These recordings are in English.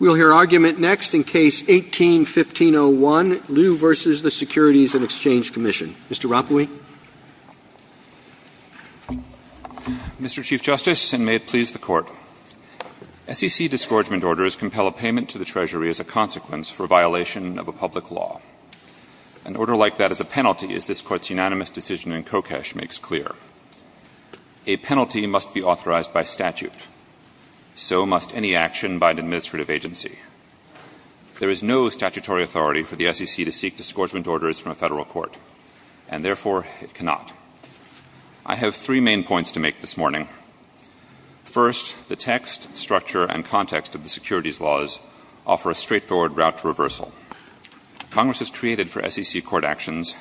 We'll hear argument next in Case 18-1501, Liu v. the Securities and Exchange Commission. Mr. Rappui. Mr. Chief Justice, and may it please the Court, SEC disgorgement orders compel a payment to the Treasury as a consequence for violation of a public law. An order like that as a penalty is this Court's unanimous decision in Kokesh makes clear. A penalty must be authorized by statute. So must any action by an administrative agency. There is no statutory authority for the SEC to seek disgorgement orders from a federal court, and therefore it cannot. I have three main points to make this morning. First, the text, structure, and context of the securities laws offer a straightforward route to reversal. Congress has created for SEC court actions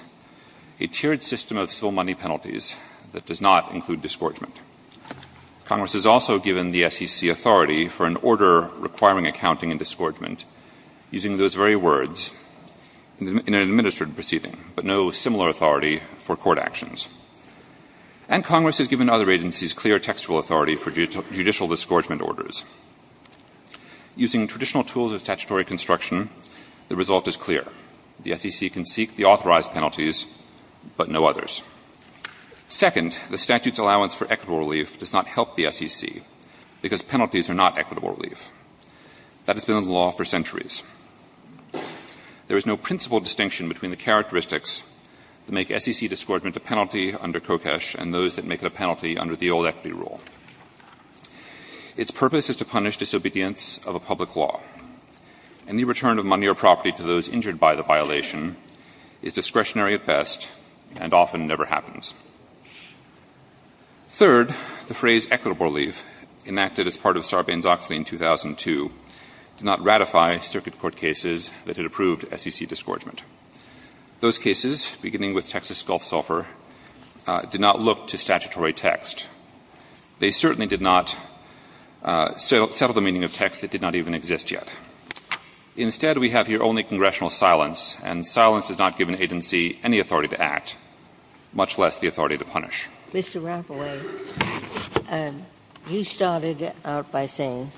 a tiered system of civil money penalties that does not include disgorgement. Congress has also given the SEC authority for an order requiring accounting in disgorgement using those very words in an administrative proceeding, but no similar authority for court actions. And Congress has given other agencies clear textual authority for judicial disgorgement orders. Using traditional tools of statutory construction, the result is clear. The SEC can seek the authorized penalties, but no others. Second, the statute's allowance for equitable relief does not help the SEC because penalties are not equitable relief. That has been the law for centuries. There is no principal distinction between the characteristics that make SEC disgorgement a penalty under Kokesh and those that make it a penalty under the old equity rule. Its purpose is to punish disobedience of a public law. Any return of money or property to those injured by the violation is discretionary at best and often never happens. Third, the phrase equitable relief enacted as part of Sarbanes-Oxley in 2002 did not ratify circuit court cases that had approved SEC disgorgement. Those cases, beginning with Texas Gulf Sulphur, did not look to statutory text. They certainly did not settle the meaning of text that did not even exist yet. Instead, we have here only congressional silence, and silence does not give an agency any authority to act, much less the authority to punish. Mr. Rapaul, you started out by saying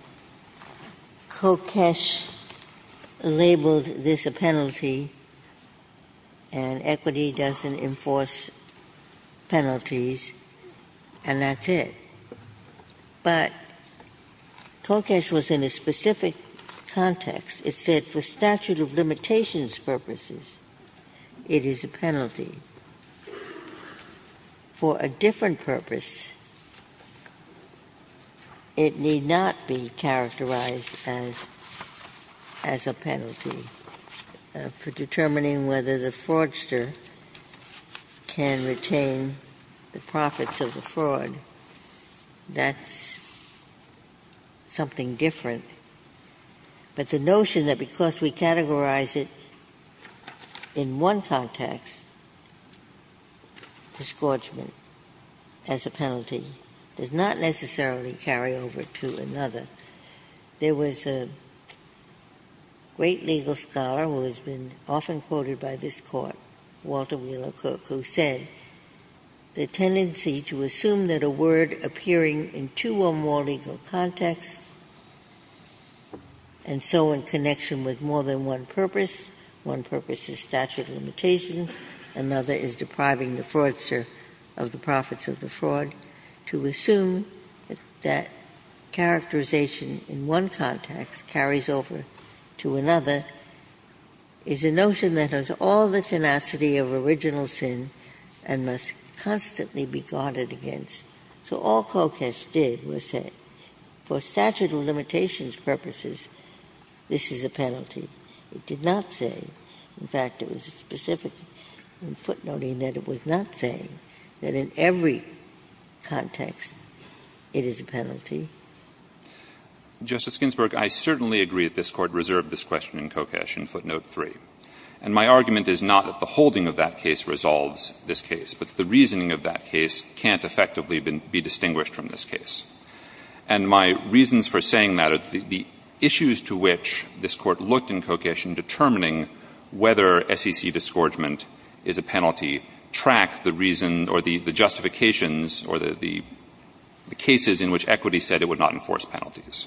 Kokesh labeled this a penalty and equity doesn't enforce penalties, and that's it. But Kokesh was in a specific context. It said for statute of limitations purposes, it is a penalty. For a different purpose, it need not be characterized as a penalty for determining whether the fraudster can retain the profits of the fraud. That's something different. But the notion that because we categorize it in one context, disgorgement as a penalty does not necessarily carry over to another. There was a great legal scholar who has been often quoted by this Court, Walter Wheeler Cook, who said the tendency to assume that a word appearing in two or more legal contexts and so in connection with more than one purpose, one purpose is statute of limitations, another is depriving the fraudster of the profits of the fraud, to assume that characterization in one context carries over to another is a notion that has all the tenacity of original sin and must constantly be guarded against. So all Kokesh did was say for statute of limitations purposes, this is a penalty. It did not say, in fact, it was specific in footnoting that it was not saying that in every context it is a penalty. Justice Ginsburg, I certainly agree that this Court reserved this question in Kokesh in footnote 3. And my argument is not that the holding of that case resolves this case, but the reasoning of that case can't effectively be distinguished from this case. And my reasons for saying that are the issues to which this Court looked in Kokesh in determining whether SEC disgorgement is a penalty track the reason or the justifications or the cases in which equity said it would not enforce penalties.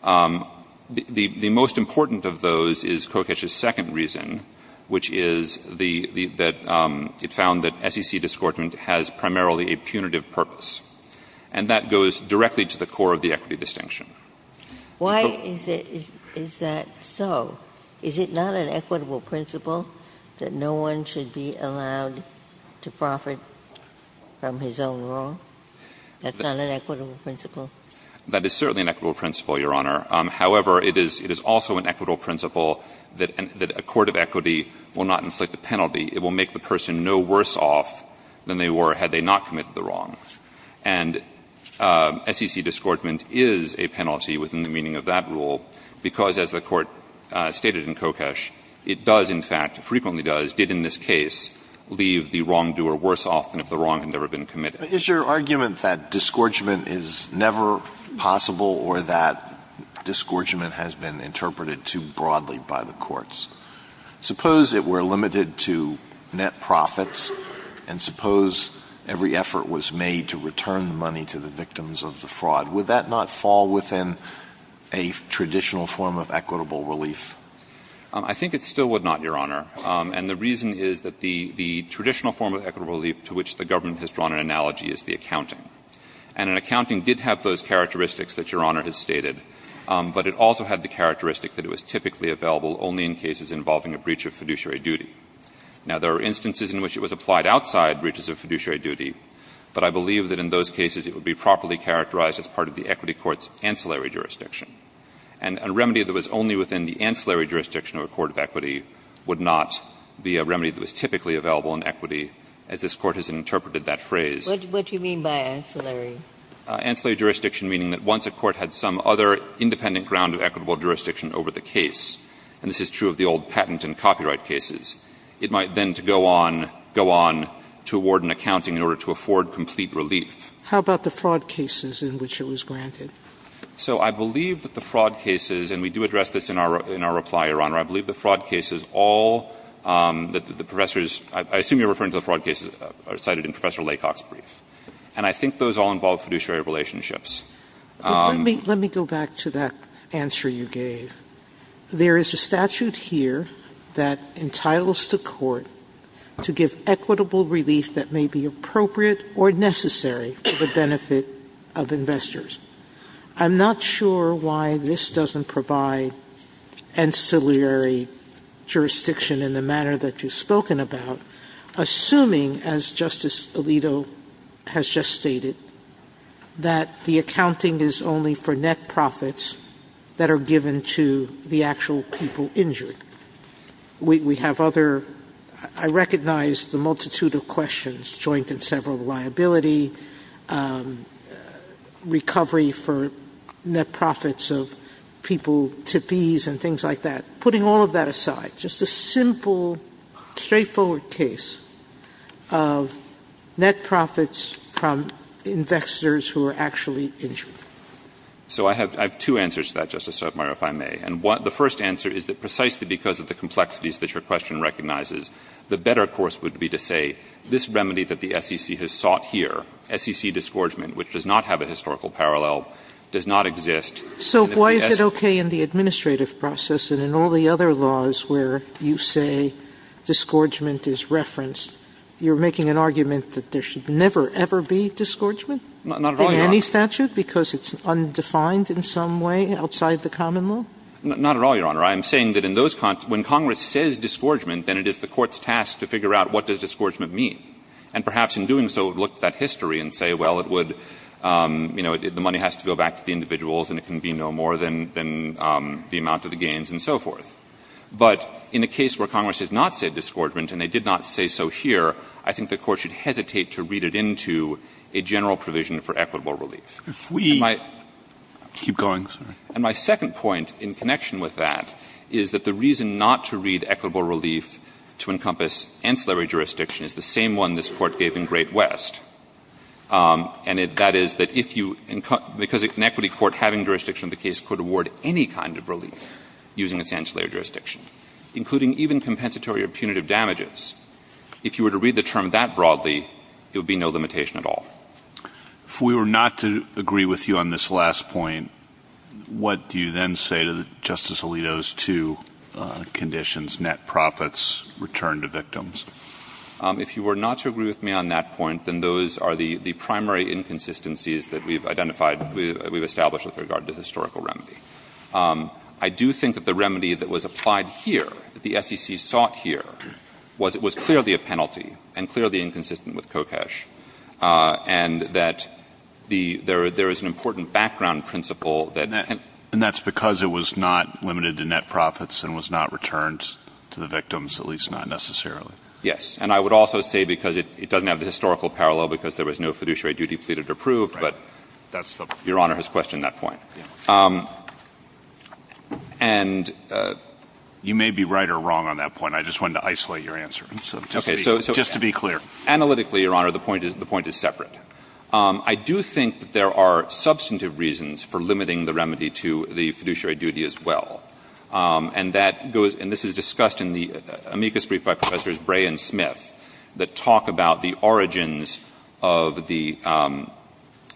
The most important of those is Kokesh's second reason, which is that it found that SEC disgorgement has primarily a punitive purpose. And that goes directly to the core of the equity distinction. Why is that so? Is it not an equitable principle that no one should be allowed to profit from his own wrong? That's not an equitable principle. That is certainly an equitable principle, Your Honor. However, it is also an equitable principle that a court of equity will not inflict a penalty. It will make the person no worse off than they were had they not committed the wrong. And SEC disgorgement is a penalty within the meaning of that rule because, as the Court stated in Kokesh, it does, in fact, frequently does, did in this case, leave the wrongdoer worse off than if the wrong had never been committed. But is your argument that disgorgement is never possible or that disgorgement has been interpreted too broadly by the courts? Suppose it were limited to net profits, and suppose every effort was made to return money to the victims of the fraud. Would that not fall within a traditional form of equitable relief? I think it still would not, Your Honor. And the reason is that the traditional form of equitable relief to which the government has drawn an analogy is the accounting. And an accounting did have those characteristics that Your Honor has stated, but it also had the characteristic that it was typically available only in cases involving a breach of fiduciary duty. Now, there are instances in which it was applied outside breaches of fiduciary duty, but I believe that in those cases it would be properly characterized as part of the equity court's ancillary jurisdiction. And a remedy that was only within the ancillary jurisdiction of a court of equity would not be a remedy that was typically available in equity, as this Court has interpreted that phrase. What do you mean by ancillary? Ancillary jurisdiction meaning that once a court had some other independent ground of equitable jurisdiction over the case, and this is true of the old patent and copyright cases, it might then go on to award an accounting in order to afford complete relief. How about the fraud cases in which it was granted? So I believe that the fraud cases, and we do address this in our reply, Your Honor. I believe the fraud cases all that the professors – I assume you're referring to the fraud cases cited in Professor Laycock's brief. And I think those all involve fiduciary relationships. Let me go back to that answer you gave. There is a statute here that entitles the court to give equitable relief that may be appropriate or necessary for the benefit of investors. I'm not sure why this doesn't provide ancillary jurisdiction in the manner that you've spoken about, assuming, as Justice Alito has just stated, that the accounting is only for net profits that are given to the actual people injured. We have other – I recognize the multitude of questions, joint and several liability, recovery for net profits of people to fees and things like that. Putting all of that aside, just a simple, straightforward case of net profits from investors who are actually injured. So I have two answers to that, Justice Sotomayor, if I may. And the first answer is that precisely because of the complexities that your question recognizes, the better course would be to say this remedy that the SEC has sought here, SEC disgorgement, which does not have a historical parallel, does not exist. Sotomayor. So why is it okay in the administrative process and in all the other laws where you say disgorgement is referenced, you're making an argument that there should never, ever be disgorgement? Not at all, Your Honor. In any statute? Because it's undefined in some way outside the common law? Not at all, Your Honor. I'm saying that in those – when Congress says disgorgement, then it is the court's task to figure out what does disgorgement mean. And perhaps in doing so, look at that history and say, well, it would, you know, the money has to go back to the individuals and it can be no more than the amount of the gains and so forth. But in a case where Congress has not said disgorgement and they did not say so here, I think the court should hesitate to read it into a general provision for equitable relief. If we keep going. And my second point in connection with that is that the reason not to read equitable relief to encompass ancillary jurisdiction is the same one this Court gave in Great West. And that is that if you – because an equity court having jurisdiction of the case could award any kind of relief using its ancillary jurisdiction, including even compensatory or punitive damages, if you were to read the term that broadly, it would be no limitation at all. If we were not to agree with you on this last point, what do you then say to Justice Alito that net profits return to victims? If you were not to agree with me on that point, then those are the primary inconsistencies that we've identified, we've established with regard to historical remedy. I do think that the remedy that was applied here, that the SEC sought here, was clearly a penalty and clearly inconsistent with COCESH. And that the – there is an important background principle that can – And that's because it was not limited to net profits and was not returned to the victims, at least not necessarily. Yes. And I would also say because it doesn't have the historical parallel because there was no fiduciary duty pleaded or proved, but Your Honor has questioned that point. And – You may be right or wrong on that point. I just wanted to isolate your answer. Okay. So – Just to be clear. Analytically, Your Honor, the point is separate. I do think that there are substantive reasons for limiting the remedy to the fiduciary duty as well. And that goes – and this is discussed in the amicus brief by Professors Bray and Smith that talk about the origins of the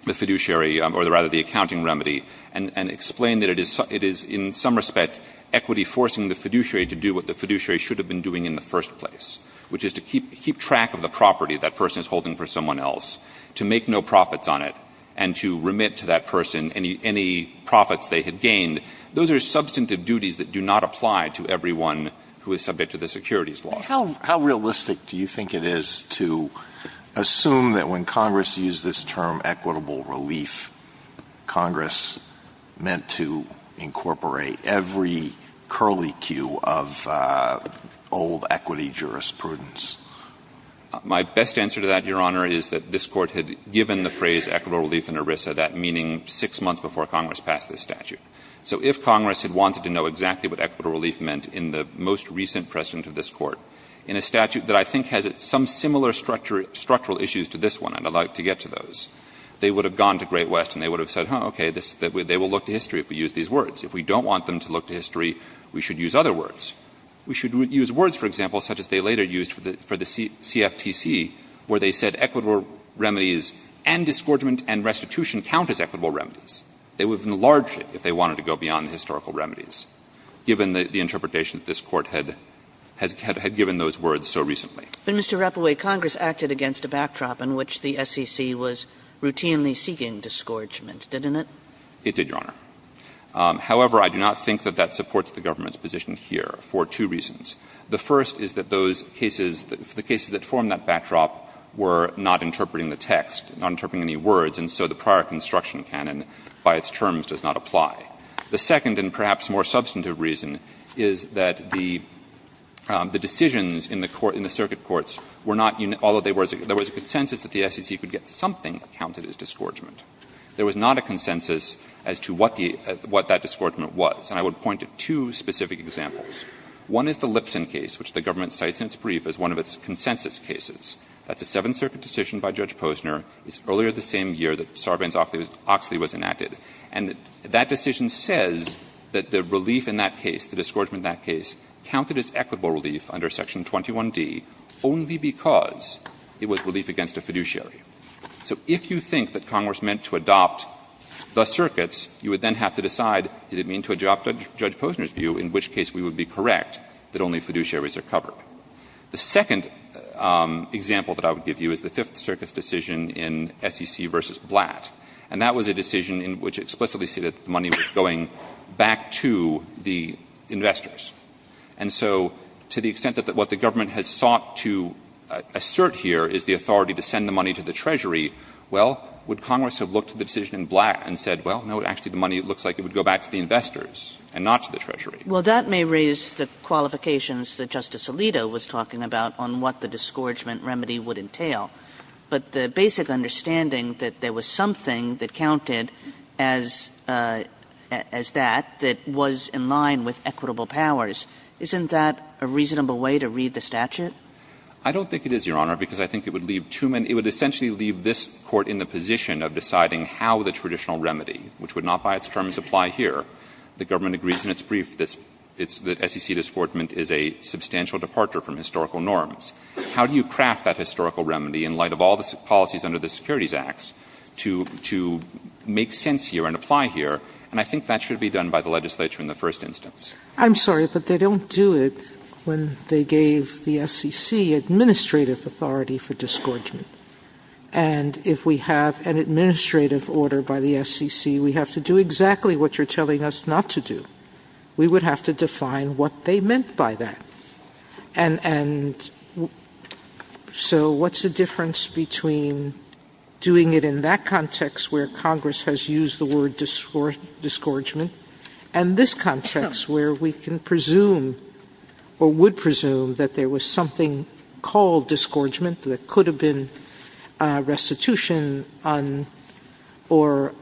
fiduciary or rather the accounting remedy and explain that it is in some respect equity forcing the fiduciary to do what the fiduciary should have been doing in the first place, which is to keep track of the to make no profits on it and to remit to that person any profits they had gained. Those are substantive duties that do not apply to everyone who is subject to the securities laws. How realistic do you think it is to assume that when Congress used this term equitable relief, Congress meant to incorporate every curly cue of old equity jurisprudence? My best answer to that, Your Honor, is that this Court had given the phrase equitable relief in ERISA, that meaning 6 months before Congress passed this statute. So if Congress had wanted to know exactly what equitable relief meant in the most recent precedent of this Court, in a statute that I think has some similar structural issues to this one, and I would like to get to those, they would have gone to Great West and they would have said, okay, they will look to history if we use these words. If we don't want them to look to history, we should use other words. We should use words, for example, such as they later used for the CFTC, where they said equitable remedies and disgorgement and restitution count as equitable remedies. They would have enlarged it if they wanted to go beyond historical remedies, given the interpretation that this Court had given those words so recently. But, Mr. Rapault, Congress acted against a backdrop in which the SEC was routinely It did, Your Honor. However, I do not think that that supports the government's position here for two reasons. The first is that those cases, the cases that form that backdrop, were not interpreting the text, not interpreting any words, and so the prior construction canon by its terms does not apply. The second and perhaps more substantive reason is that the decisions in the circuit courts were not, although there was a consensus that the SEC could get something that counted as disgorgement. There was not a consensus as to what the — what that disgorgement was. And I would point to two specific examples. One is the Lipson case, which the government cites in its brief as one of its consensus cases. That's a Seventh Circuit decision by Judge Posner. It's earlier the same year that Sarbanes-Oxley was enacted. And that decision says that the relief in that case, the disgorgement in that case, counted as equitable relief under Section 21d only because it was relief against a fiduciary. So if you think that Congress meant to adopt the circuits, you would then have to decide, did it mean to adopt Judge Posner's view, in which case we would be correct that only fiduciaries are covered. The second example that I would give you is the Fifth Circuit's decision in SEC v. Blatt. And that was a decision in which it explicitly stated that the money was going back to the investors. And so to the extent that what the government has sought to assert here is the authority to send the money to the Treasury, well, would Congress have looked at the decision in Blatt and said, well, no, actually, the money looks like it would go back to the investors and not to the Treasury. Kagan. Well, that may raise the qualifications that Justice Alito was talking about on what the disgorgement remedy would entail, but the basic understanding that there was something that counted as that that was in line with equitable powers, isn't that a reasonable way to read the statute? I don't think it is, Your Honor, because I think it would leave too many – it would essentially leave this Court in the position of deciding how the traditional remedy, which would not by its terms apply here. The government agrees in its brief that SEC disgorgement is a substantial departure from historical norms. How do you craft that historical remedy in light of all the policies under the Securities Acts to make sense here and apply here? And I think that should be done by the legislature in the first instance. I'm sorry, but they don't do it when they gave the SEC administrative authority for disgorgement. And if we have an administrative order by the SEC, we have to do exactly what you're telling us not to do. We would have to define what they meant by that. And so what's the difference between doing it in that context where Congress has used the word disgorgement and this context where we can presume or would presume that there was something called disgorgement that could have been restitution or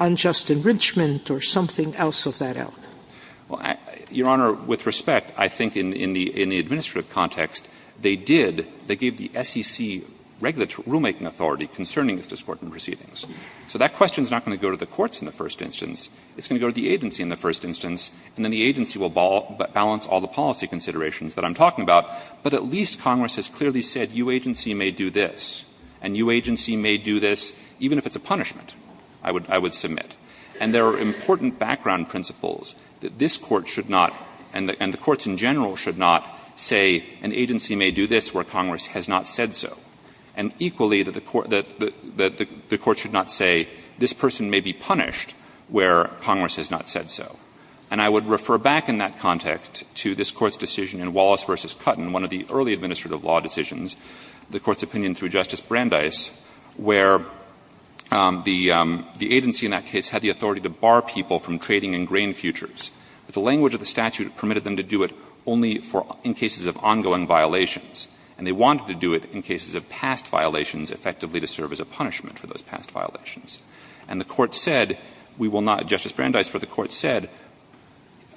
unjust enrichment or something else of that ilk? Well, Your Honor, with respect, I think in the administrative context, they did – they did not give the SEC regulatory rulemaking authority concerning its disgorgement proceedings. So that question is not going to go to the courts in the first instance. It's going to go to the agency in the first instance, and then the agency will balance all the policy considerations that I'm talking about. But at least Congress has clearly said your agency may do this, and your agency may do this even if it's a punishment, I would submit. And there are important background principles that this Court should not – and the Court should not say this person may be punished where Congress has not said so. And I would refer back in that context to this Court's decision in Wallace v. Cutton, one of the early administrative law decisions, the Court's opinion through Justice Brandeis, where the agency in that case had the authority to bar people from trading in grain futures. But the language of the statute permitted them to do it only for – in cases of ongoing violations, and they wanted to do it in cases of past violations effectively to serve as a punishment for those past violations. And the Court said we will not – Justice Brandeis, what the Court said,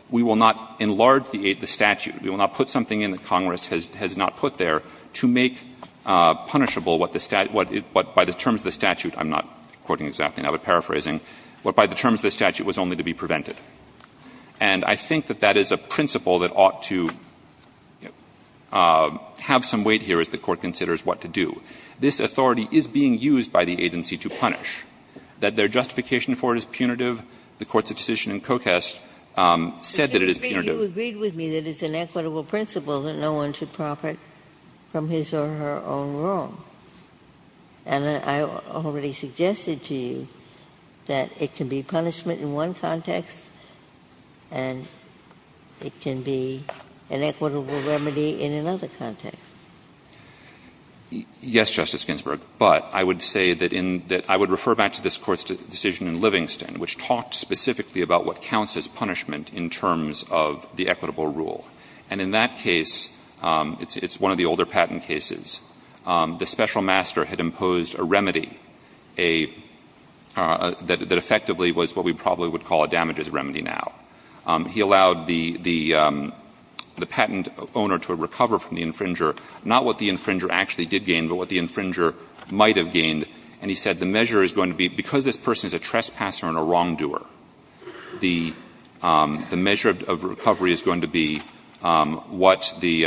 we will not enlarge the statute. We will not put something in that Congress has not put there to make punishable what the statute – what by the terms of the statute – I'm not quoting exactly now. I'm paraphrasing. What by the terms of the statute was only to be prevented. And I think that that is a principle that ought to have some weight here as the Court considers what to do. This authority is being used by the agency to punish. That their justification for it is punitive, the Court's decision in Kokest said that it is punitive. Ginsburg, you agreed with me that it's an equitable principle that no one should profit from his or her own wrong. And I already suggested to you that it can be punishment in one context and it can be an equitable remedy in another context. Yes, Justice Ginsburg. But I would say that in – that I would refer back to this Court's decision in Livingston, which talked specifically about what counts as punishment in terms of the equitable rule. And in that case, it's one of the older patent cases. The special master had imposed a remedy that effectively was what we probably would call a damages remedy now. He allowed the patent owner to recover from the infringer, not what the infringer actually did gain, but what the infringer might have gained. And he said the measure is going to be – because this person is a trespasser and a wrongdoer, the measure of recovery is going to be what the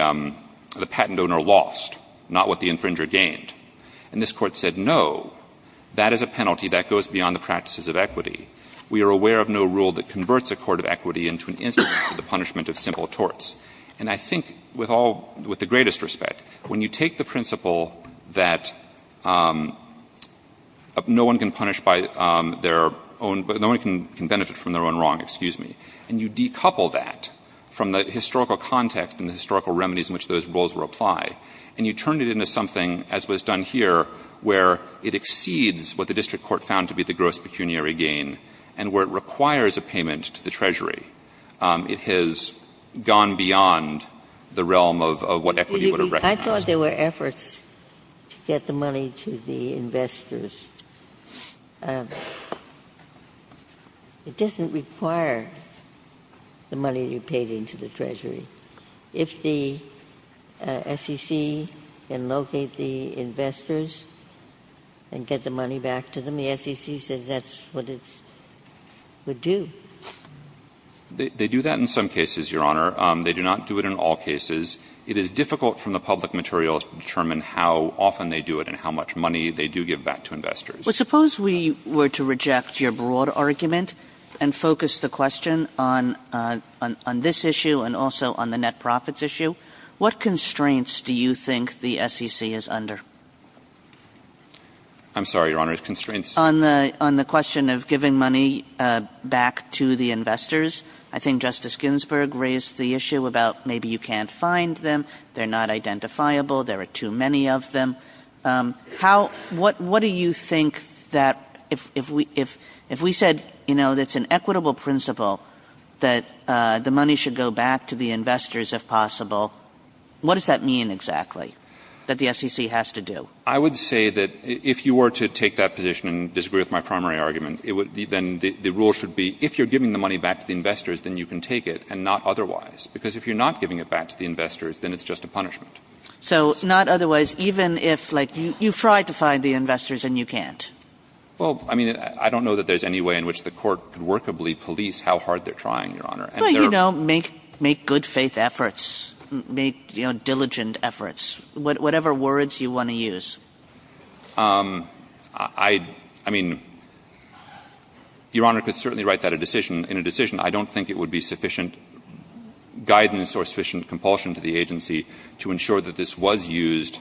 patent owner lost, not what the infringer gained. And this Court said, no, that is a penalty that goes beyond the practices of equity. We are aware of no rule that converts a court of equity into an instrument for the punishment of simple torts. And I think with all – with the greatest respect, when you take the principle that no one can punish by their own – no one can benefit from their own wrong, excuse me, and you decouple that from the historical context and the historical context in which the rules apply, and you turn it into something, as was done here, where it exceeds what the district court found to be the gross pecuniary gain and where it requires a payment to the Treasury, it has gone beyond the realm of what equity would have recognized. Ginsburg. I thought there were efforts to get the money to the investors. It doesn't require the money you paid into the Treasury. If the SEC can locate the investors and get the money back to them, the SEC says that's what it would do. They do that in some cases, Your Honor. They do not do it in all cases. It is difficult from the public materials to determine how often they do it and how Well, suppose we were to reject your broad argument and focus the question on this issue and also on the net profits issue. What constraints do you think the SEC is under? I'm sorry, Your Honor. Constraints? On the question of giving money back to the investors. I think Justice Ginsburg raised the issue about maybe you can't find them. They're not identifiable. There are too many of them. What do you think that if we said, you know, it's an equitable principle that the money should go back to the investors if possible, what does that mean exactly that the SEC has to do? I would say that if you were to take that position and disagree with my primary argument, then the rule should be if you're giving the money back to the investors, then you can take it and not otherwise. Because if you're not giving it back to the investors, then it's just a punishment. So not otherwise, even if, like, you try to find the investors and you can't? Well, I mean, I don't know that there's any way in which the court could workably police how hard they're trying, Your Honor. Well, you know, make good faith efforts. Make, you know, diligent efforts. Whatever words you want to use. I mean, Your Honor could certainly write that a decision. In a decision, I don't think it would be sufficient guidance or sufficient compulsion to the agency to ensure that this was used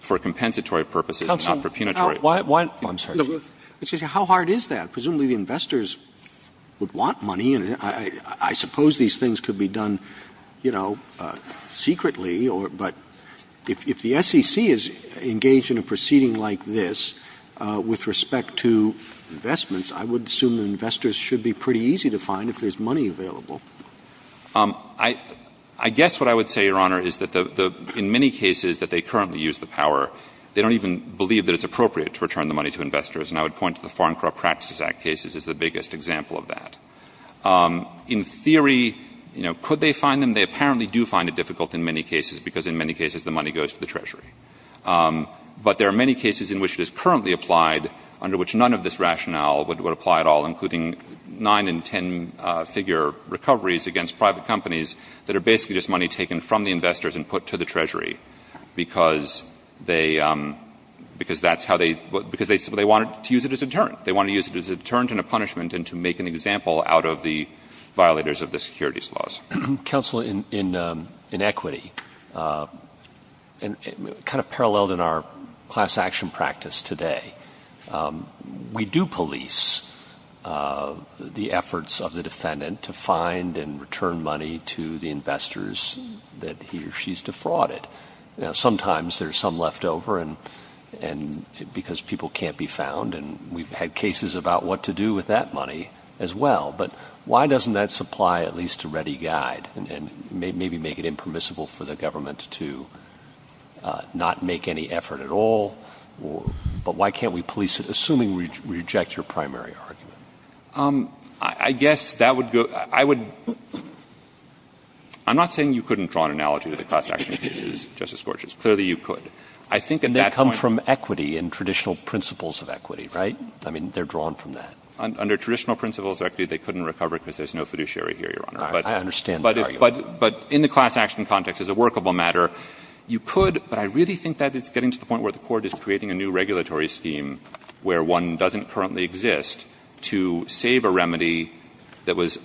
for compensatory purposes and not for punitory purposes. I'm sorry. How hard is that? Presumably the investors would want money, and I suppose these things could be done, you know, secretly, but if the SEC is engaged in a proceeding like this with respect to investments, I would assume the investors should be pretty easy to find if there's money available. I guess what I would say, Your Honor, is that in many cases that they currently use the power, they don't even believe that it's appropriate to return the money to investors, and I would point to the Foreign Corrupt Practices Act cases as the biggest example of that. In theory, you know, could they find them? They apparently do find it difficult in many cases because in many cases the money goes to the Treasury. But there are many cases in which it is currently applied under which none of this that are basically just money taken from the investors and put to the Treasury because they wanted to use it as a deterrent. They wanted to use it as a deterrent and a punishment and to make an example out of the violators of the securities laws. Counsel, in equity, kind of paralleled in our class action practice today, we do police the efforts of the defendant to find and return money to the investors that he or she has defrauded. Now, sometimes there's some left over because people can't be found, and we've had cases about what to do with that money as well. But why doesn't that supply at least a ready guide and maybe make it impermissible for the government to not make any effort at all? But why can't we police it, assuming we reject your primary argument? I guess that would go — I would — I'm not saying you couldn't draw an analogy to the class action cases, Justice Gorgias. Clearly, you could. I think at that point— And they come from equity and traditional principles of equity, right? I mean, they're drawn from that. Under traditional principles of equity, they couldn't recover it because there's no fiduciary here, Your Honor. I understand the argument. But in the class action context, as a workable matter, you could, but I really think that it's getting to the point where the Court is creating a new regulatory scheme where one doesn't currently exist to save a remedy that was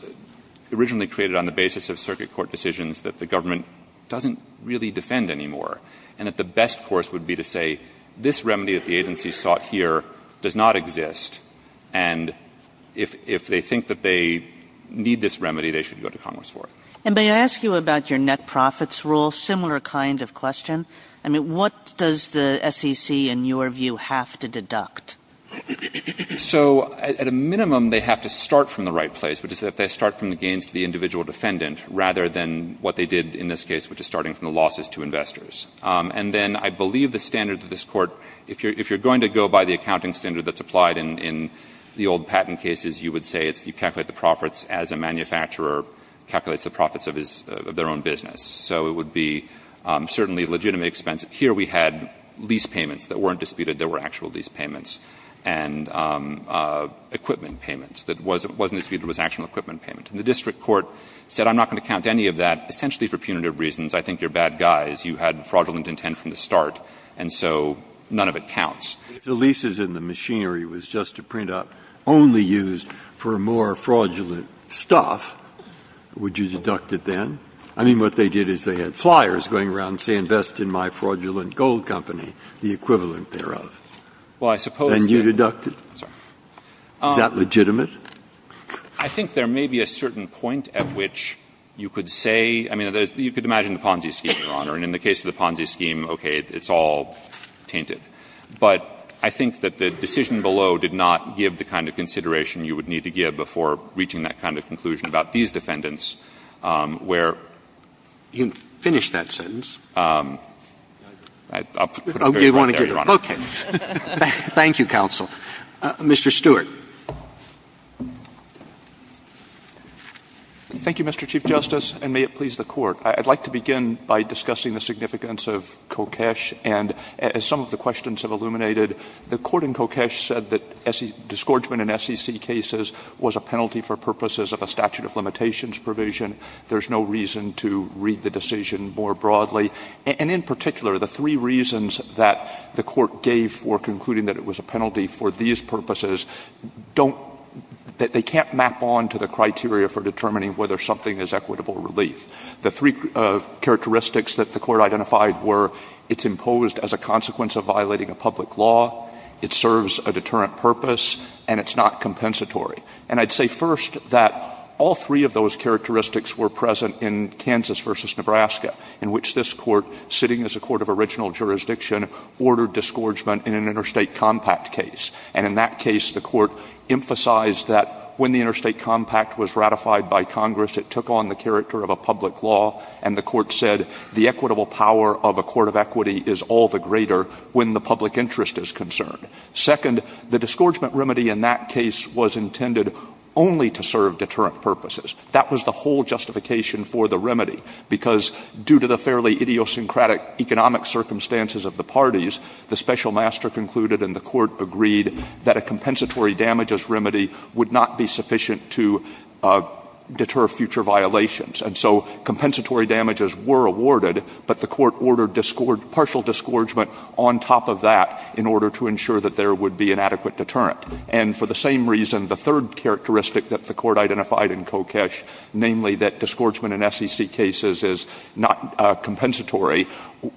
originally created on the basis of circuit court decisions that the government doesn't really defend anymore, and that the best course would be to say this remedy that the agency sought here does not exist, and if they think that they need this remedy, they should go to Congress for it. And may I ask you about your net profits rule? Similar kind of question. I mean, what does the SEC, in your view, have to deduct? So, at a minimum, they have to start from the right place, which is if they start from the gains to the individual defendant, rather than what they did in this case, which is starting from the losses to investors. And then I believe the standard that this Court — if you're going to go by the accounting standard that's applied in the old patent cases, you would say it's — you would say the manufacturer calculates the profits of his — of their own business. So it would be certainly legitimately expensive. Here we had lease payments that weren't disputed. There were actual lease payments. And equipment payments that wasn't disputed was actual equipment payment. And the district court said I'm not going to count any of that, essentially for punitive reasons. I think you're bad guys. You had fraudulent intent from the start. And so none of it counts. Breyer, if the leases in the machinery was just to print up only used for more fraudulent stuff, would you deduct it then? I mean, what they did is they had flyers going around saying invest in my fraudulent gold company, the equivalent thereof. And you deducted? Is that legitimate? I think there may be a certain point at which you could say — I mean, you could imagine the Ponzi scheme, Your Honor. And in the case of the Ponzi scheme, okay, it's all tainted. But I think that the decision below did not give the kind of consideration you would need to give before reaching that kind of conclusion about these defendants, where — You can finish that sentence. I'll put it right there, Your Honor. Okay. Thank you, counsel. Mr. Stewart. Thank you, Mr. Chief Justice, and may it please the Court. I'd like to begin by discussing the significance of Kokesh. And as some of the questions have illuminated, the Court in Kokesh said that disgorgement in SEC cases was a penalty for purposes of a statute of limitations provision. There's no reason to read the decision more broadly. And in particular, the three reasons that the Court gave for concluding that it was a penalty for these purposes don't — they can't map on to the criteria for determining whether something is equitable relief. The three characteristics that the Court identified were it's imposed as a consequence of violating a public law, it serves a deterrent purpose, and it's not compensatory. And I'd say first that all three of those characteristics were present in Kansas v. Nebraska, in which this Court, sitting as a court of original jurisdiction, ordered disgorgement in an interstate compact case. And in that case, the Court emphasized that when the interstate compact was ratified by Congress, it took on the character of a public law. And the Court said the equitable power of a court of equity is all the greater when the public interest is concerned. Second, the disgorgement remedy in that case was intended only to serve deterrent purposes. That was the whole justification for the remedy, because due to the fairly idiosyncratic compensatory damages remedy would not be sufficient to deter future violations. And so compensatory damages were awarded, but the Court ordered partial disgorgement on top of that in order to ensure that there would be an adequate deterrent. And for the same reason, the third characteristic that the Court identified in Kokesh, namely that disgorgement in SEC cases is not compensatory,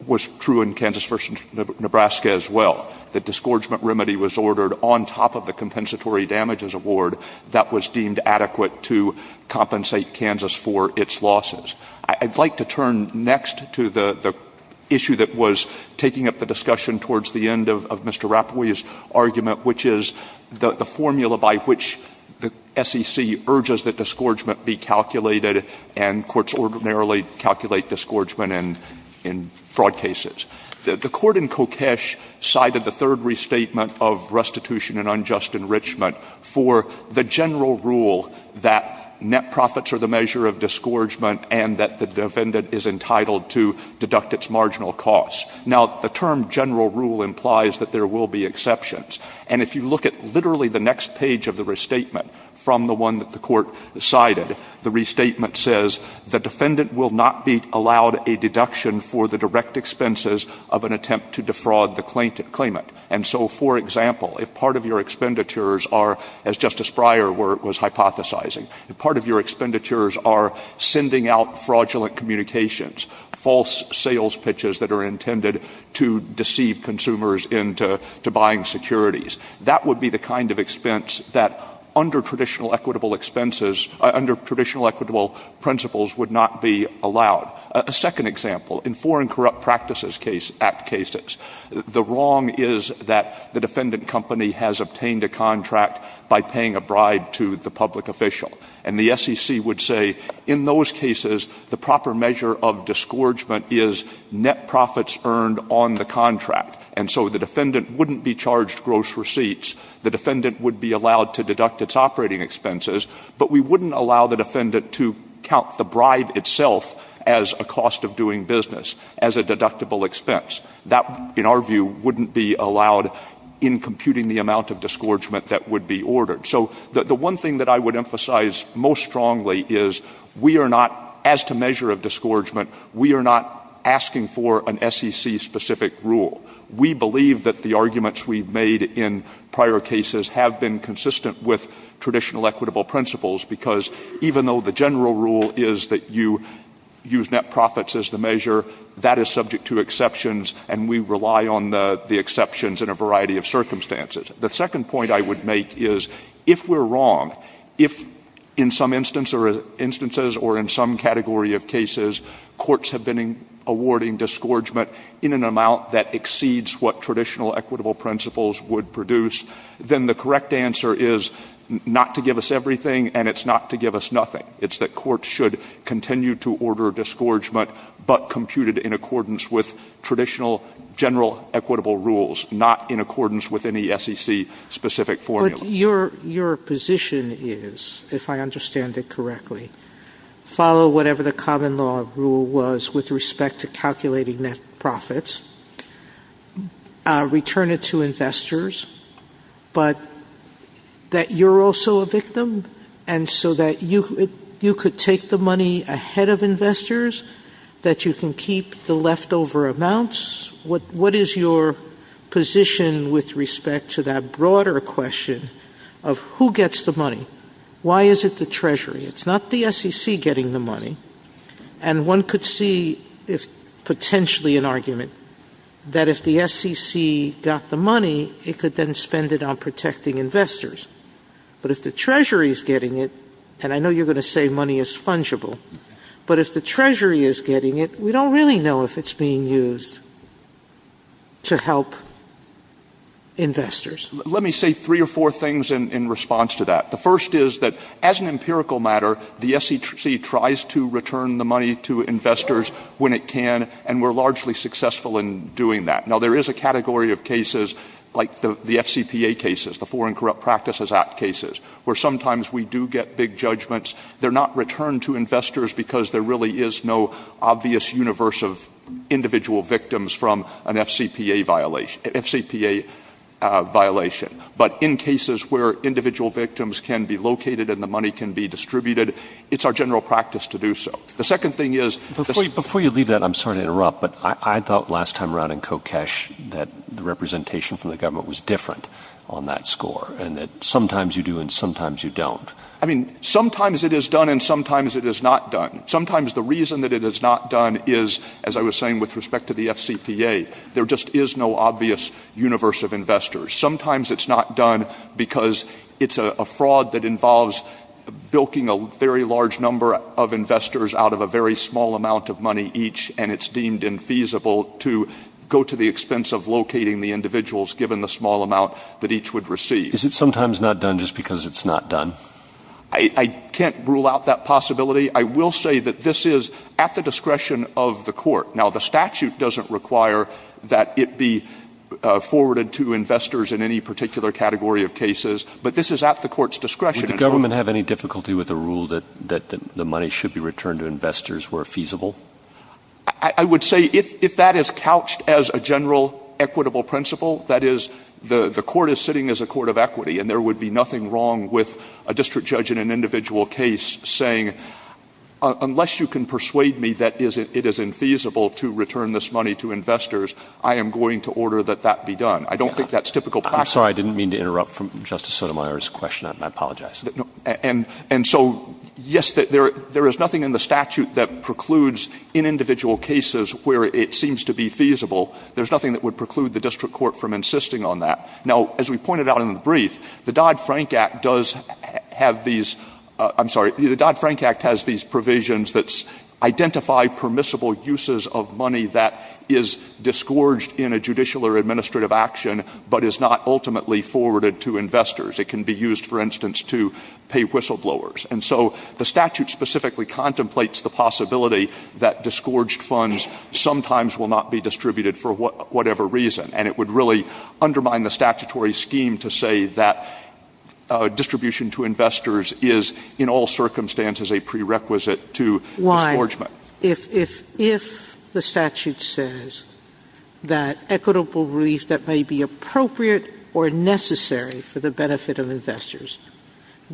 was true in Kansas v. Nebraska as well. The disgorgement remedy was ordered on top of the compensatory damages award that was deemed adequate to compensate Kansas for its losses. I'd like to turn next to the issue that was taking up the discussion towards the end of Mr. Rapoport's argument, which is the formula by which the SEC urges that disgorgement be calculated, and courts ordinarily calculate disgorgement in fraud cases. The Court in Kokesh cited the third restatement of restitution and unjust enrichment for the general rule that net profits are the measure of disgorgement and that the defendant is entitled to deduct its marginal costs. Now, the term general rule implies that there will be exceptions. And if you look at literally the next page of the restatement from the one that the Court cited, the restatement says, the defendant will not be allowed a deduction for the direct expenses of an attempt to defraud the claimant. And so, for example, if part of your expenditures are, as Justice Breyer was hypothesizing, if part of your expenditures are sending out fraudulent communications, false sales pitches that are intended to deceive consumers into buying securities, that would be the kind of expense that under traditional equitable expenses, under traditional equitable principles would not be allowed. A second example, in Foreign Corrupt Practices Act cases, the wrong is that the defendant company has obtained a contract by paying a bribe to the public official. And the SEC would say, in those cases, the proper measure of disgorgement is net profits earned on the contract. And so the defendant wouldn't be charged gross receipts. The defendant would be allowed to deduct its operating expenses. But we wouldn't allow the defendant to count the bribe itself as a cost of doing business, as a deductible expense. That, in our view, wouldn't be allowed in computing the amount of disgorgement that would be ordered. So the one thing that I would emphasize most strongly is we are not, as to measure of disgorgement, we are not asking for an SEC-specific rule. We believe that the arguments we've made in prior cases have been consistent with traditional equitable principles. Because even though the general rule is that you use net profits as the measure, that is subject to exceptions. And we rely on the exceptions in a variety of circumstances. The second point I would make is, if we're wrong, if in some instances or in some category of cases courts have been awarding disgorgement in an amount that exceeds what traditional equitable principles would produce, then the correct answer is not to give us everything, and it's not to give us nothing. It's that courts should continue to order disgorgement, but compute it in accordance with traditional general equitable rules, not in accordance with any SEC-specific rule. Your position is, if I understand it correctly, follow whatever the common law rule was with respect to calculating net profits, return it to investors, but that you're also a victim, and so that you could take the money ahead of investors, that you can keep the leftover amounts. What is your position with respect to that broader question of who gets the money? Why is it the Treasury? It's not the SEC getting the money. And one could see potentially an argument that if the SEC got the money, it could then spend it on protecting investors. But if the Treasury is getting it, and I know you're going to say money is fungible, but if the Treasury is getting it, we don't really know if it's being used to help investors. Let me say three or four things in response to that. The first is that as an empirical matter, the SEC tries to return the money to investors when it can, and we're largely successful in doing that. Now, there is a category of cases like the FCPA cases, the Foreign Corrupt Practices Act cases, where sometimes we do get big judgments. They're not returned to investors because there really is no obvious universe of individual victims from an FCPA violation. But in cases where individual victims can be located and the money can be distributed, it's our general practice to do so. The second thing is – Before you leave that, I'm sorry to interrupt, but I thought last time around in Kokesh that the representation from the government was different on that score, and that sometimes you do and sometimes you don't. I mean, sometimes it is done and sometimes it is not done. Sometimes the reason that it is not done is, as I was saying with respect to the FCPA, there just is no obvious universe of investors. Sometimes it's not done because it's a fraud that involves bilking a very large number of investors out of a very small amount of money each, and it's deemed infeasible to go to the expense of locating the individuals given the small amount that each would receive. Is it sometimes not done just because it's not done? I can't rule out that possibility. I will say that this is at the discretion of the court. Now, the statute doesn't require that it be forwarded to investors in any particular category of cases, but this is at the court's discretion. Would the government have any difficulty with the rule that the money should be returned to investors where feasible? I would say if that is couched as a general equitable principle, that is, the court is sitting as a court of equity, and there would be nothing wrong with a district judge in an individual case saying, unless you can persuade me that it is infeasible to return this money to investors, I am going to order that that be done. I don't think that's typical practice. I'm sorry. I didn't mean to interrupt from Justice Sotomayor's question. I apologize. And so, yes, there is nothing in the statute that precludes in individual cases where it seems to be feasible. There's nothing that would preclude the district court from insisting on that. Now, as we pointed out in the brief, the Dodd-Frank Act does have these — I'm sorry. The Dodd-Frank Act has these provisions that identify permissible uses of money that is disgorged in a judicial or administrative action but is not ultimately forwarded to investors. It can be used, for instance, to pay whistleblowers. And so the statute specifically contemplates the possibility that disgorged funds sometimes will not be distributed for whatever reason, and it would really undermine the statutory scheme to say that distribution to investors is in all circumstances a prerequisite to disgorgement. Why? If the statute says that equitable relief that may be appropriate or necessary for the benefit of investors,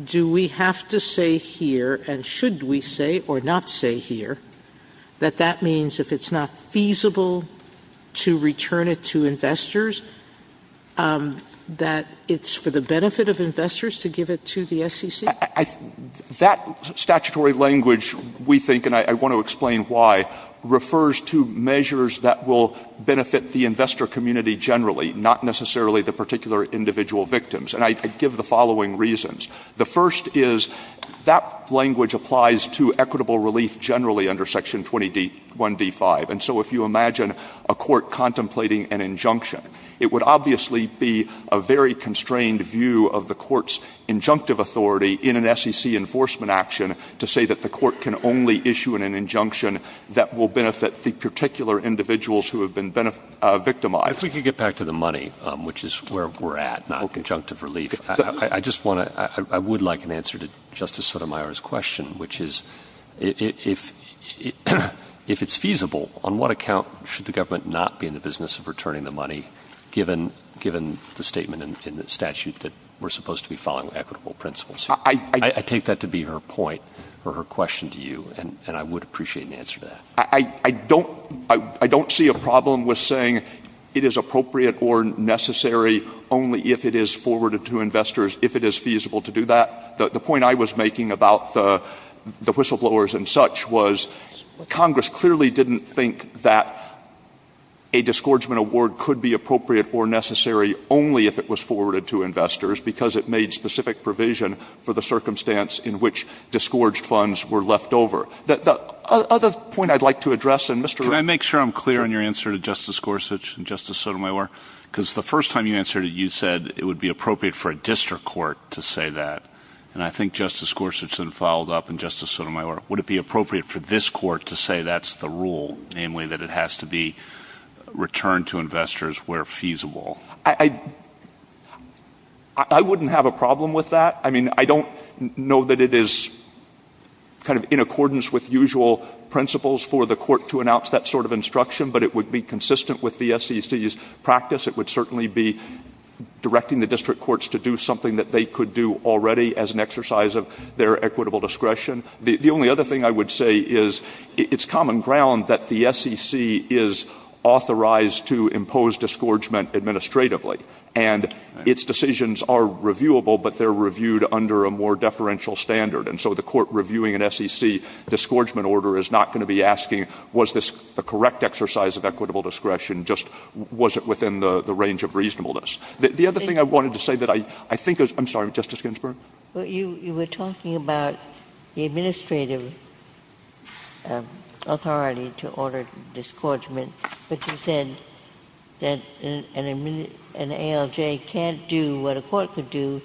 do we have to say here, and should we say or not say here, that that means if it's not feasible to return it to investors, that it's for the benefit of investors to give it to the SEC? That statutory language, we think, and I want to explain why, refers to measures that will benefit the investor community generally, not necessarily the particular individual victims. And I give the following reasons. The first is that language applies to equitable relief generally under Section 21d5. And so if you imagine a court contemplating an injunction, it would obviously be a very constrained view of the court's injunctive authority in an SEC enforcement action to say that the court can only issue an injunction that will benefit the particular individuals who have been victimized. If we could get back to the money, which is where we're at, not conjunctive relief, I would like an answer to Justice Sotomayor's question, which is, if it's feasible, on what account should the government not be in the business of returning the money given the statement in the statute that we're supposed to be following equitable principles? I take that to be her point or her question to you, and I would appreciate an answer to that. I don't see a problem with saying it is appropriate or necessary only if it is forwarded to investors, if it is feasible to do that. The point I was making about the whistleblowers and such was Congress clearly didn't think that a disgorgement award could be appropriate or necessary only if it was forwarded to investors because it made specific provision for the circumstance in which disgorged funds were left over. The other point I'd like to address, and Mr. Can I make sure I'm clear on your answer to Justice Gorsuch and Justice Sotomayor? Because the first time you answered it, you said it would be appropriate for a district court to say that, and I think Justice Gorsuch then followed up, and Justice Sotomayor, would it be appropriate for this court to say that's the rule, namely that it has to be returned to investors where feasible? I wouldn't have a problem with that. I mean, I don't know that it is kind of in accordance with usual principles for the court to announce that sort of instruction, but it would be consistent with the SEC's practice. It would certainly be directing the district courts to do something that they could do already as an exercise of their equitable discretion. The only other thing I would say is it's common ground that the SEC is authorized to impose disgorgement administratively, and its decisions are reviewable, but they are reviewed under a more deferential standard. And so the court reviewing an SEC disgorgement order is not going to be asking was this the correct exercise of equitable discretion, just was it within the range of reasonableness. The other thing I wanted to say that I think is – I'm sorry, Justice Ginsburg. Ginsburg. You were talking about the administrative authority to order disgorgement, but you said that an ALJ can't do what a court could do,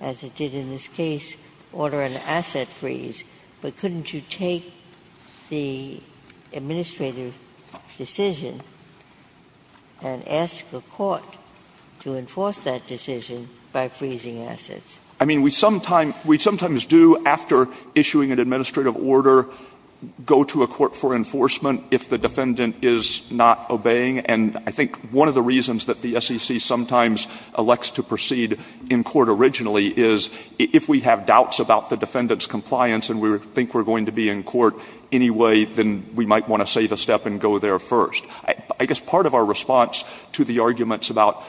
as it did in this case, order an asset freeze. But couldn't you take the administrative decision and ask a court to enforce that decision by freezing assets? I mean, we sometimes do, after issuing an administrative order, go to a court for enforcement if the defendant is not obeying. And I think one of the reasons that the SEC sometimes elects to proceed in court originally is if we have doubts about the defendant's compliance and we think we're going to be in court anyway, then we might want to save a step and go there first. I guess part of our response to the arguments about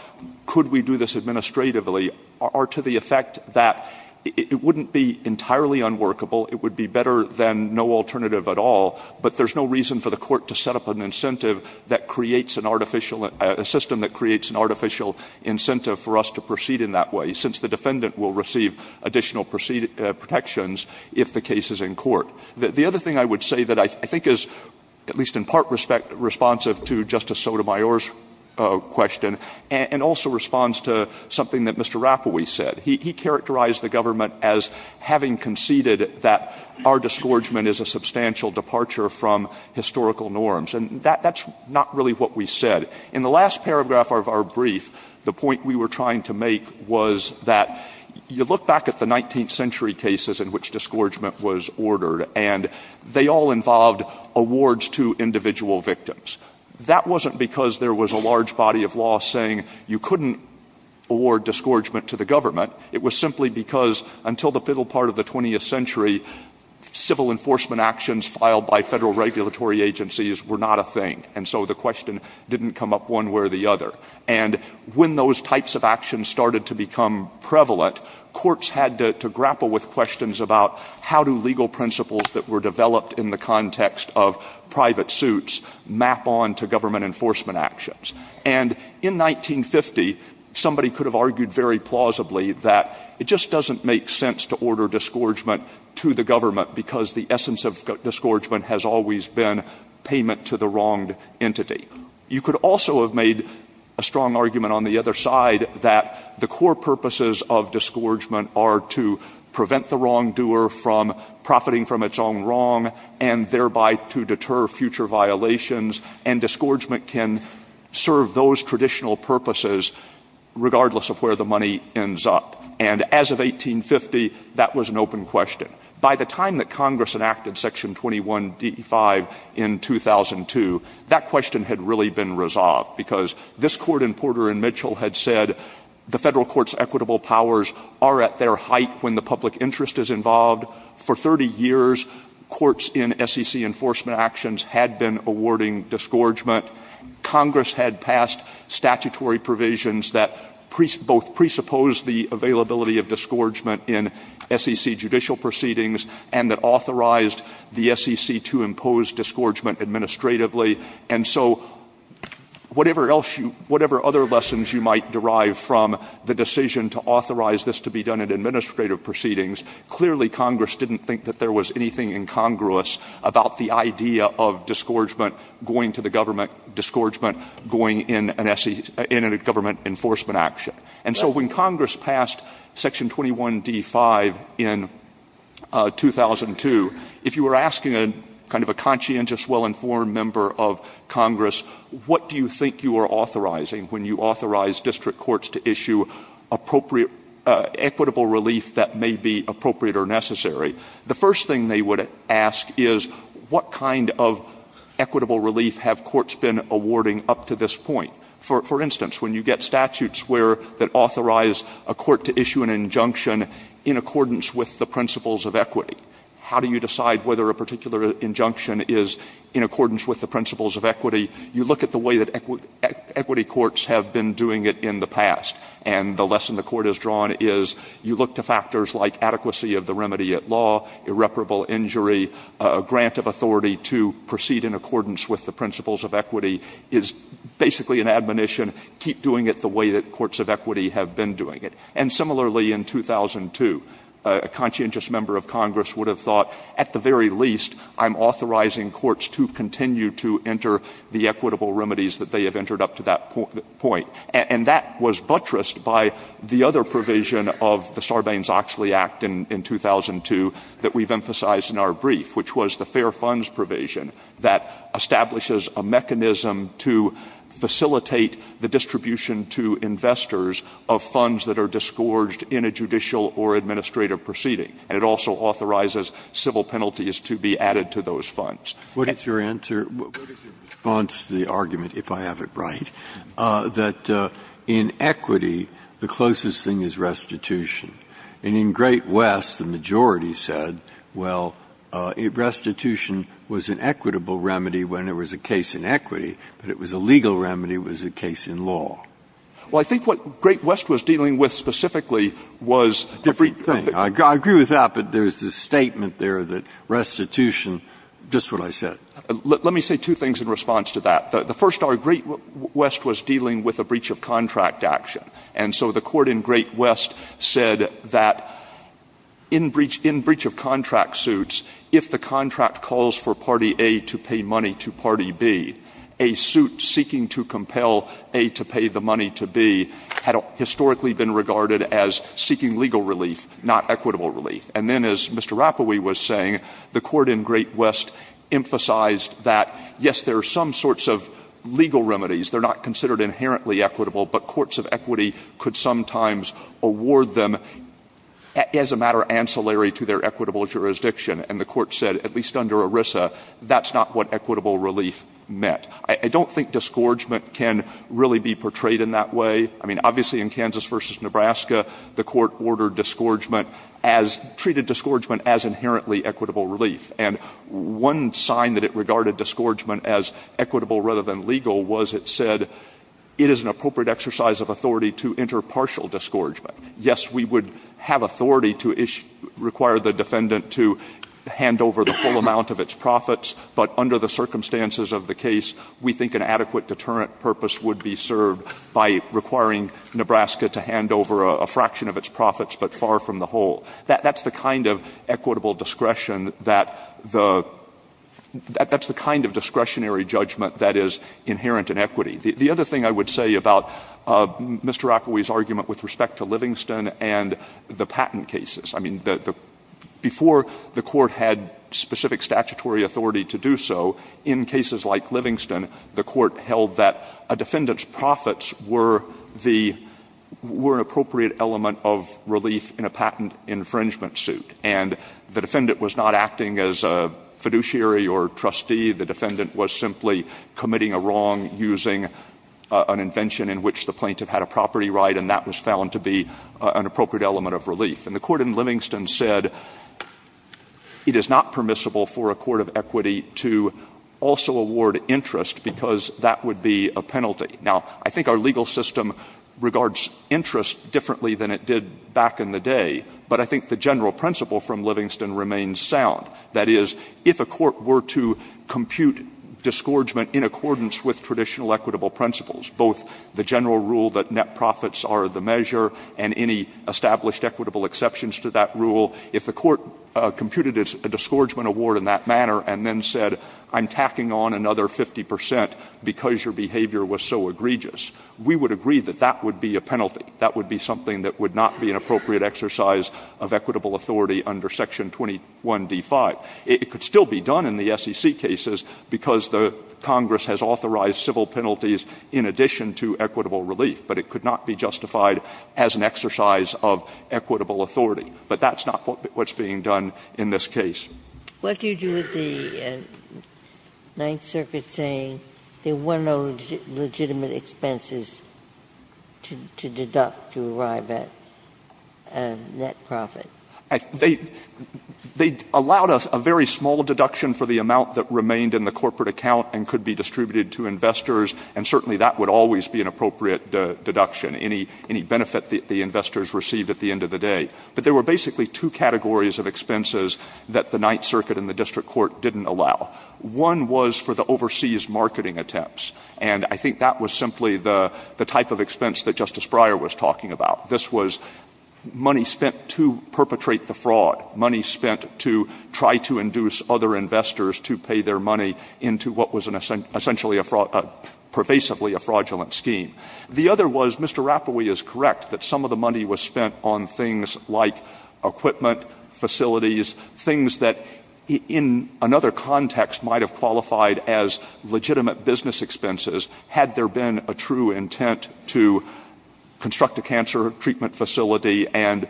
could we do this administratively are to the effect that it wouldn't be entirely unworkable. It would be better than no alternative at all. But there's no reason for the court to set up an incentive that creates an artificial – a system that creates an artificial incentive for us to proceed in that way, since the defendant will receive additional protections if the case is in court. The other thing I would say that I think is, at least in part, responsive to Justice Sotomayor's question and also responds to something that Mr. Rapowee said. He characterized the government as having conceded that our disgorgement is a substantial departure from historical norms. And that's not really what we said. In the last paragraph of our brief, the point we were trying to make was that you look back at the 19th century cases in which disgorgement was ordered, and they all involved awards to individual victims. That wasn't because there was a large body of law saying you couldn't award disgorgement to the government. It was simply because until the middle part of the 20th century, civil enforcement actions filed by Federal regulatory agencies were not a thing. And so the question didn't come up one way or the other. And when those types of actions started to become prevalent, courts had to grapple with questions about how do legal principles that were developed in the context of private suits map on to government enforcement actions. And in 1950, somebody could have argued very plausibly that it just doesn't make sense to order disgorgement to the government because the essence of disgorgement has always been payment to the wronged entity. You could also have made a strong argument on the other side that the core purposes of disgorgement are to prevent the wrongdoer from profiting from its own wrong and thereby to deter future violations. And disgorgement can serve those traditional purposes regardless of where the money ends up. And as of 1850, that was an open question. By the time that Congress enacted Section 21DE5 in 2002, that question had really been resolved because this Court in Porter and Mitchell had said the Federal Court's equitable powers are at their height when the public interest is involved. For 30 years, courts in SEC enforcement actions had been awarding disgorgement. Congress had passed statutory provisions that both presupposed the availability of disgorgement in SEC judicial proceedings and that authorized the SEC to impose disgorgement administratively. And so whatever else you – whatever other lessons you might derive from the decision to authorize this to be done in administrative proceedings, clearly Congress didn't think that there was anything incongruous about the idea of disgorgement going to the government, disgorgement going in an – in a government enforcement action. And so when Congress passed Section 21DE5 in 2002, if you were asking a kind of a conscientious, well-informed member of Congress what do you think you are authorizing when you authorize district courts to issue appropriate – equitable relief that may be appropriate or necessary, the first thing they would ask is what kind of equitable relief have courts been awarding up to this point. For instance, when you get statutes where – that authorize a court to issue an injunction in accordance with the principles of equity, how do you decide whether a particular injunction is in accordance with the principles of equity? You look at the way that equity courts have been doing it in the past. And the lesson the Court has drawn is you look to factors like adequacy of the remedy at law, irreparable injury, a grant of authority to proceed in accordance with the principles of equity is basically an admonition. Keep doing it the way that courts of equity have been doing it. And similarly, in 2002, a conscientious member of Congress would have thought at the very least I'm authorizing courts to continue to enter the equitable remedies that they have entered up to that point. And that was buttressed by the other provision of the Sarbanes-Oxley Act in 2002 that we've emphasized in our brief, which was the fair funds provision that establishes a mechanism to facilitate the distribution to investors of funds that are disgorged in a judicial or administrative proceeding. And it also authorizes civil penalties to be added to those funds. Breyer. What is your answer? What is your response to the argument, if I have it right, that in equity, the closest thing is restitution? And in Great West, the majority said, well, restitution was an equitable remedy when it was a case in equity, but it was a legal remedy when it was a case in law. Well, I think what Great West was dealing with specifically was a different thing. Let me say two things in response to that. The first, our Great West was dealing with a breach of contract action. And so the court in Great West said that in breach of contract suits, if the contract calls for party A to pay money to party B, a suit seeking to compel A to pay the money to B had historically been regarded as seeking legal relief, not equitable relief. And then, as Mr. Rapowi was saying, the court in Great West emphasized that, yes, there are some sorts of legal remedies. They're not considered inherently equitable, but courts of equity could sometimes award them as a matter of ancillary to their equitable jurisdiction. And the court said, at least under ERISA, that's not what equitable relief meant. I don't think disgorgement can really be portrayed in that way. I mean, obviously, in Kansas v. Nebraska, the court ordered disgorgement as, treated disgorgement as inherently equitable relief. And one sign that it regarded disgorgement as equitable rather than legal was it said it is an appropriate exercise of authority to enter partial disgorgement. Yes, we would have authority to require the defendant to hand over the full amount of its profits, but under the circumstances of the case, we think an adequate deterrent purpose would be served by requiring Nebraska to hand over a fraction of its profits, but far from the whole. That's the kind of equitable discretion that the — that's the kind of discretionary judgment that is inherent in equity. The other thing I would say about Mr. Rapowi's argument with respect to Livingston and the patent cases, I mean, the — before the court had specific statutory authority to do so, in cases like Livingston, the court held that a defendant's profits were the — were an appropriate element of relief in a patent infringement suit. And the defendant was not acting as a fiduciary or trustee. The defendant was simply committing a wrong using an invention in which the plaintiff had a property right, and that was found to be an appropriate element of relief. And the court in Livingston said it is not permissible for a court of equity to also award interest because that would be a penalty. Now, I think our legal system regards interest differently than it did back in the day, but I think the general principle from Livingston remains sound. That is, if a court were to compute disgorgement in accordance with traditional equitable principles, both the general rule that net profits are the measure and any established equitable exceptions to that rule, if the court computed a disgorgement award in that manner and then said I'm tacking on another 50 percent because your behavior was so egregious, we would agree that that would be a penalty. That would be something that would not be an appropriate exercise of equitable authority under Section 21d5. It could still be done in the SEC cases because the Congress has authorized civil penalties in addition to equitable relief, but it could not be justified as an exercise of equitable authority. But that's not what's being done in this case. Ginsburg. What do you do with the Ninth Circuit saying there were no legitimate expenses to deduct to arrive at net profit? Stewart. They allowed a very small deduction for the amount that remained in the corporate account and could be distributed to investors, and certainly that would always be an appropriate deduction, any benefit that the investors received at the end of the day. But there were basically two categories of expenses that the Ninth Circuit and the district court didn't allow. One was for the overseas marketing attempts, and I think that was simply the type of expense that Justice Breyer was talking about. This was money spent to perpetrate the fraud, money spent to try to induce other The other was, Mr. Rapowee is correct that some of the money was spent on things like equipment, facilities, things that in another context might have qualified as legitimate business expenses had there been a true intent to construct a cancer treatment facility and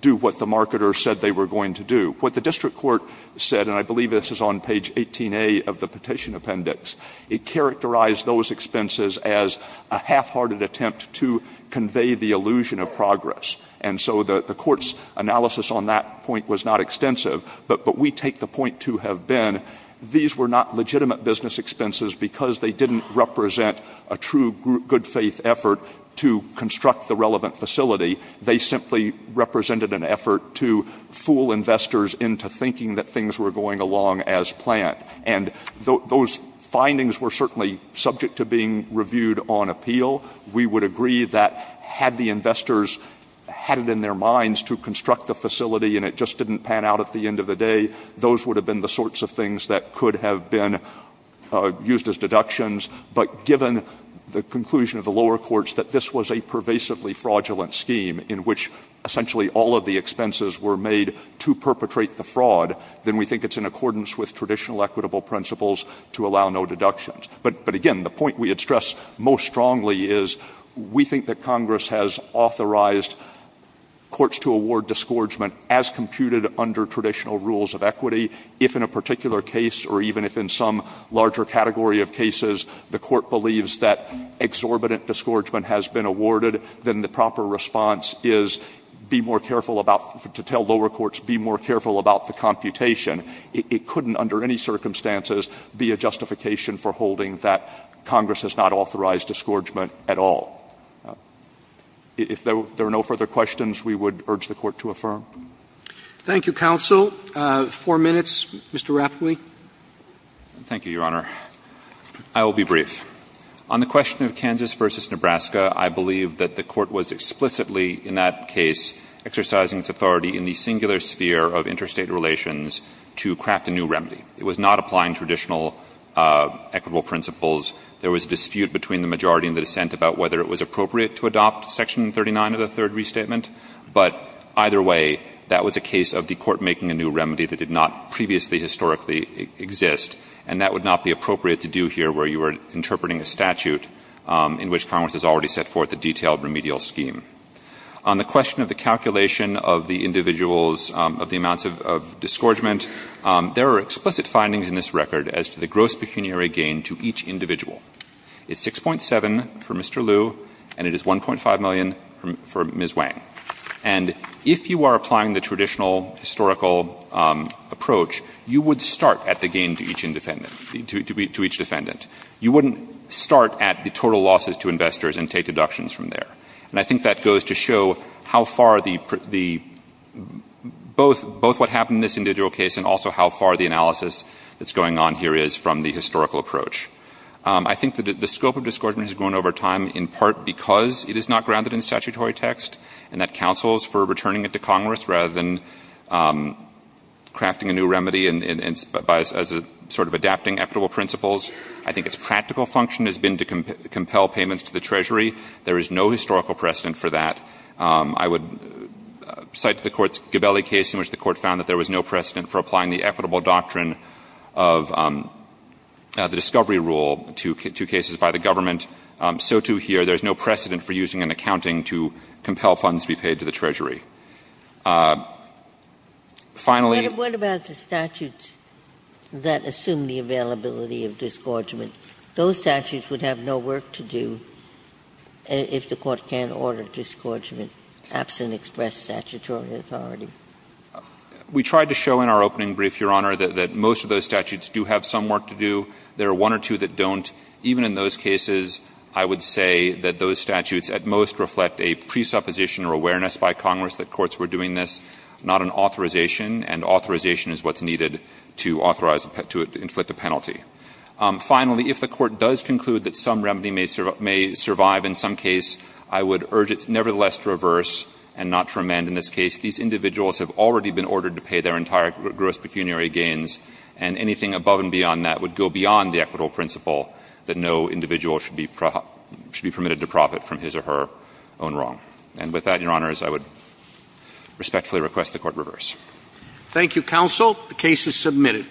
do what the marketer said they were going to do. What the district court said, and I believe this is on page 18A of the petition appendix, it characterized those expenses as a half-hearted attempt to convey the illusion of progress. And so the court's analysis on that point was not extensive, but we take the point to have been these were not legitimate business expenses because they didn't represent a true good-faith effort to construct the relevant facility. They simply represented an effort to fool investors into thinking that things were going along as planned. And those findings were certainly subject to being reviewed on appeal. We would agree that had the investors had it in their minds to construct the facility and it just didn't pan out at the end of the day, those would have been the sorts of things that could have been used as deductions. But given the conclusion of the lower courts that this was a pervasively fraudulent scheme in which essentially all of the expenses were made to perpetrate the fraud, then we think it's in accordance with traditional equitable principles to allow no deductions. But again, the point we had stressed most strongly is we think that Congress has authorized courts to award disgorgement as computed under traditional rules of equity. If in a particular case or even if in some larger category of cases the court believes that exorbitant disgorgement has been awarded, then the proper response is be more careful about to tell lower courts be more careful about the computation. It couldn't under any circumstances be a justification for holding that Congress has not authorized disgorgement at all. If there are no further questions, we would urge the Court to affirm. Roberts. Thank you, counsel. Four minutes. Thank you, Your Honor. I will be brief. On the question of Kansas v. Nebraska, I believe that the Court was explicitly in that case exercising its authority in the singular sphere of interstate relations to craft a new remedy. It was not applying traditional equitable principles. There was a dispute between the majority and the dissent about whether it was appropriate to adopt Section 39 of the Third Restatement. But either way, that was a case of the Court making a new remedy that did not previously historically exist, and that would not be appropriate to do here where you were interpreting a statute in which Congress has already set forth a detailed remedial scheme. On the question of the calculation of the individuals of the amounts of disgorgement, there are explicit findings in this record as to the gross pecuniary gain to each individual. It's 6.7 for Mr. Liu, and it is 1.5 million for Ms. Wang. And if you are applying the traditional historical approach, you would start at the gain to each defendant. You wouldn't start at the total losses to investors and take deductions from there. And I think that goes to show how far the – both what happened in this individual case and also how far the analysis that's going on here is from the historical approach. I think that the scope of disgorgement has grown over time in part because it is not grounded in statutory text and that counsels for returning it to Congress rather than crafting a new remedy as a sort of adapting equitable principles. I think its practical function has been to compel payments to the Treasury. There is no historical precedent for that. I would cite the court's Gabelli case in which the court found that there was no precedent for applying the equitable doctrine of the discovery rule to cases by the government. So, too, here there is no precedent for using an accounting to compel funds to be paid to the Treasury. Finally — What about the statutes that assume the availability of disgorgement? Those statutes would have no work to do if the court can't order disgorgement absent express statutory authority. We tried to show in our opening brief, Your Honor, that most of those statutes do have some work to do. There are one or two that don't. Even in those cases, I would say that those statutes at most reflect a presupposition or awareness by Congress that courts were doing this, not an authorization, and authorization is what's needed to authorize — to inflict a penalty. Finally, if the court does conclude that some remedy may survive in some case, I would urge it nevertheless to reverse and not to amend in this case. These individuals have already been ordered to pay their entire gross pecuniary gains, and anything above and beyond that would go beyond the equitable principle that no individual should be permitted to profit from his or her own wrong. And with that, Your Honor, I would respectfully request the court reverse. Thank you, counsel. The case is submitted.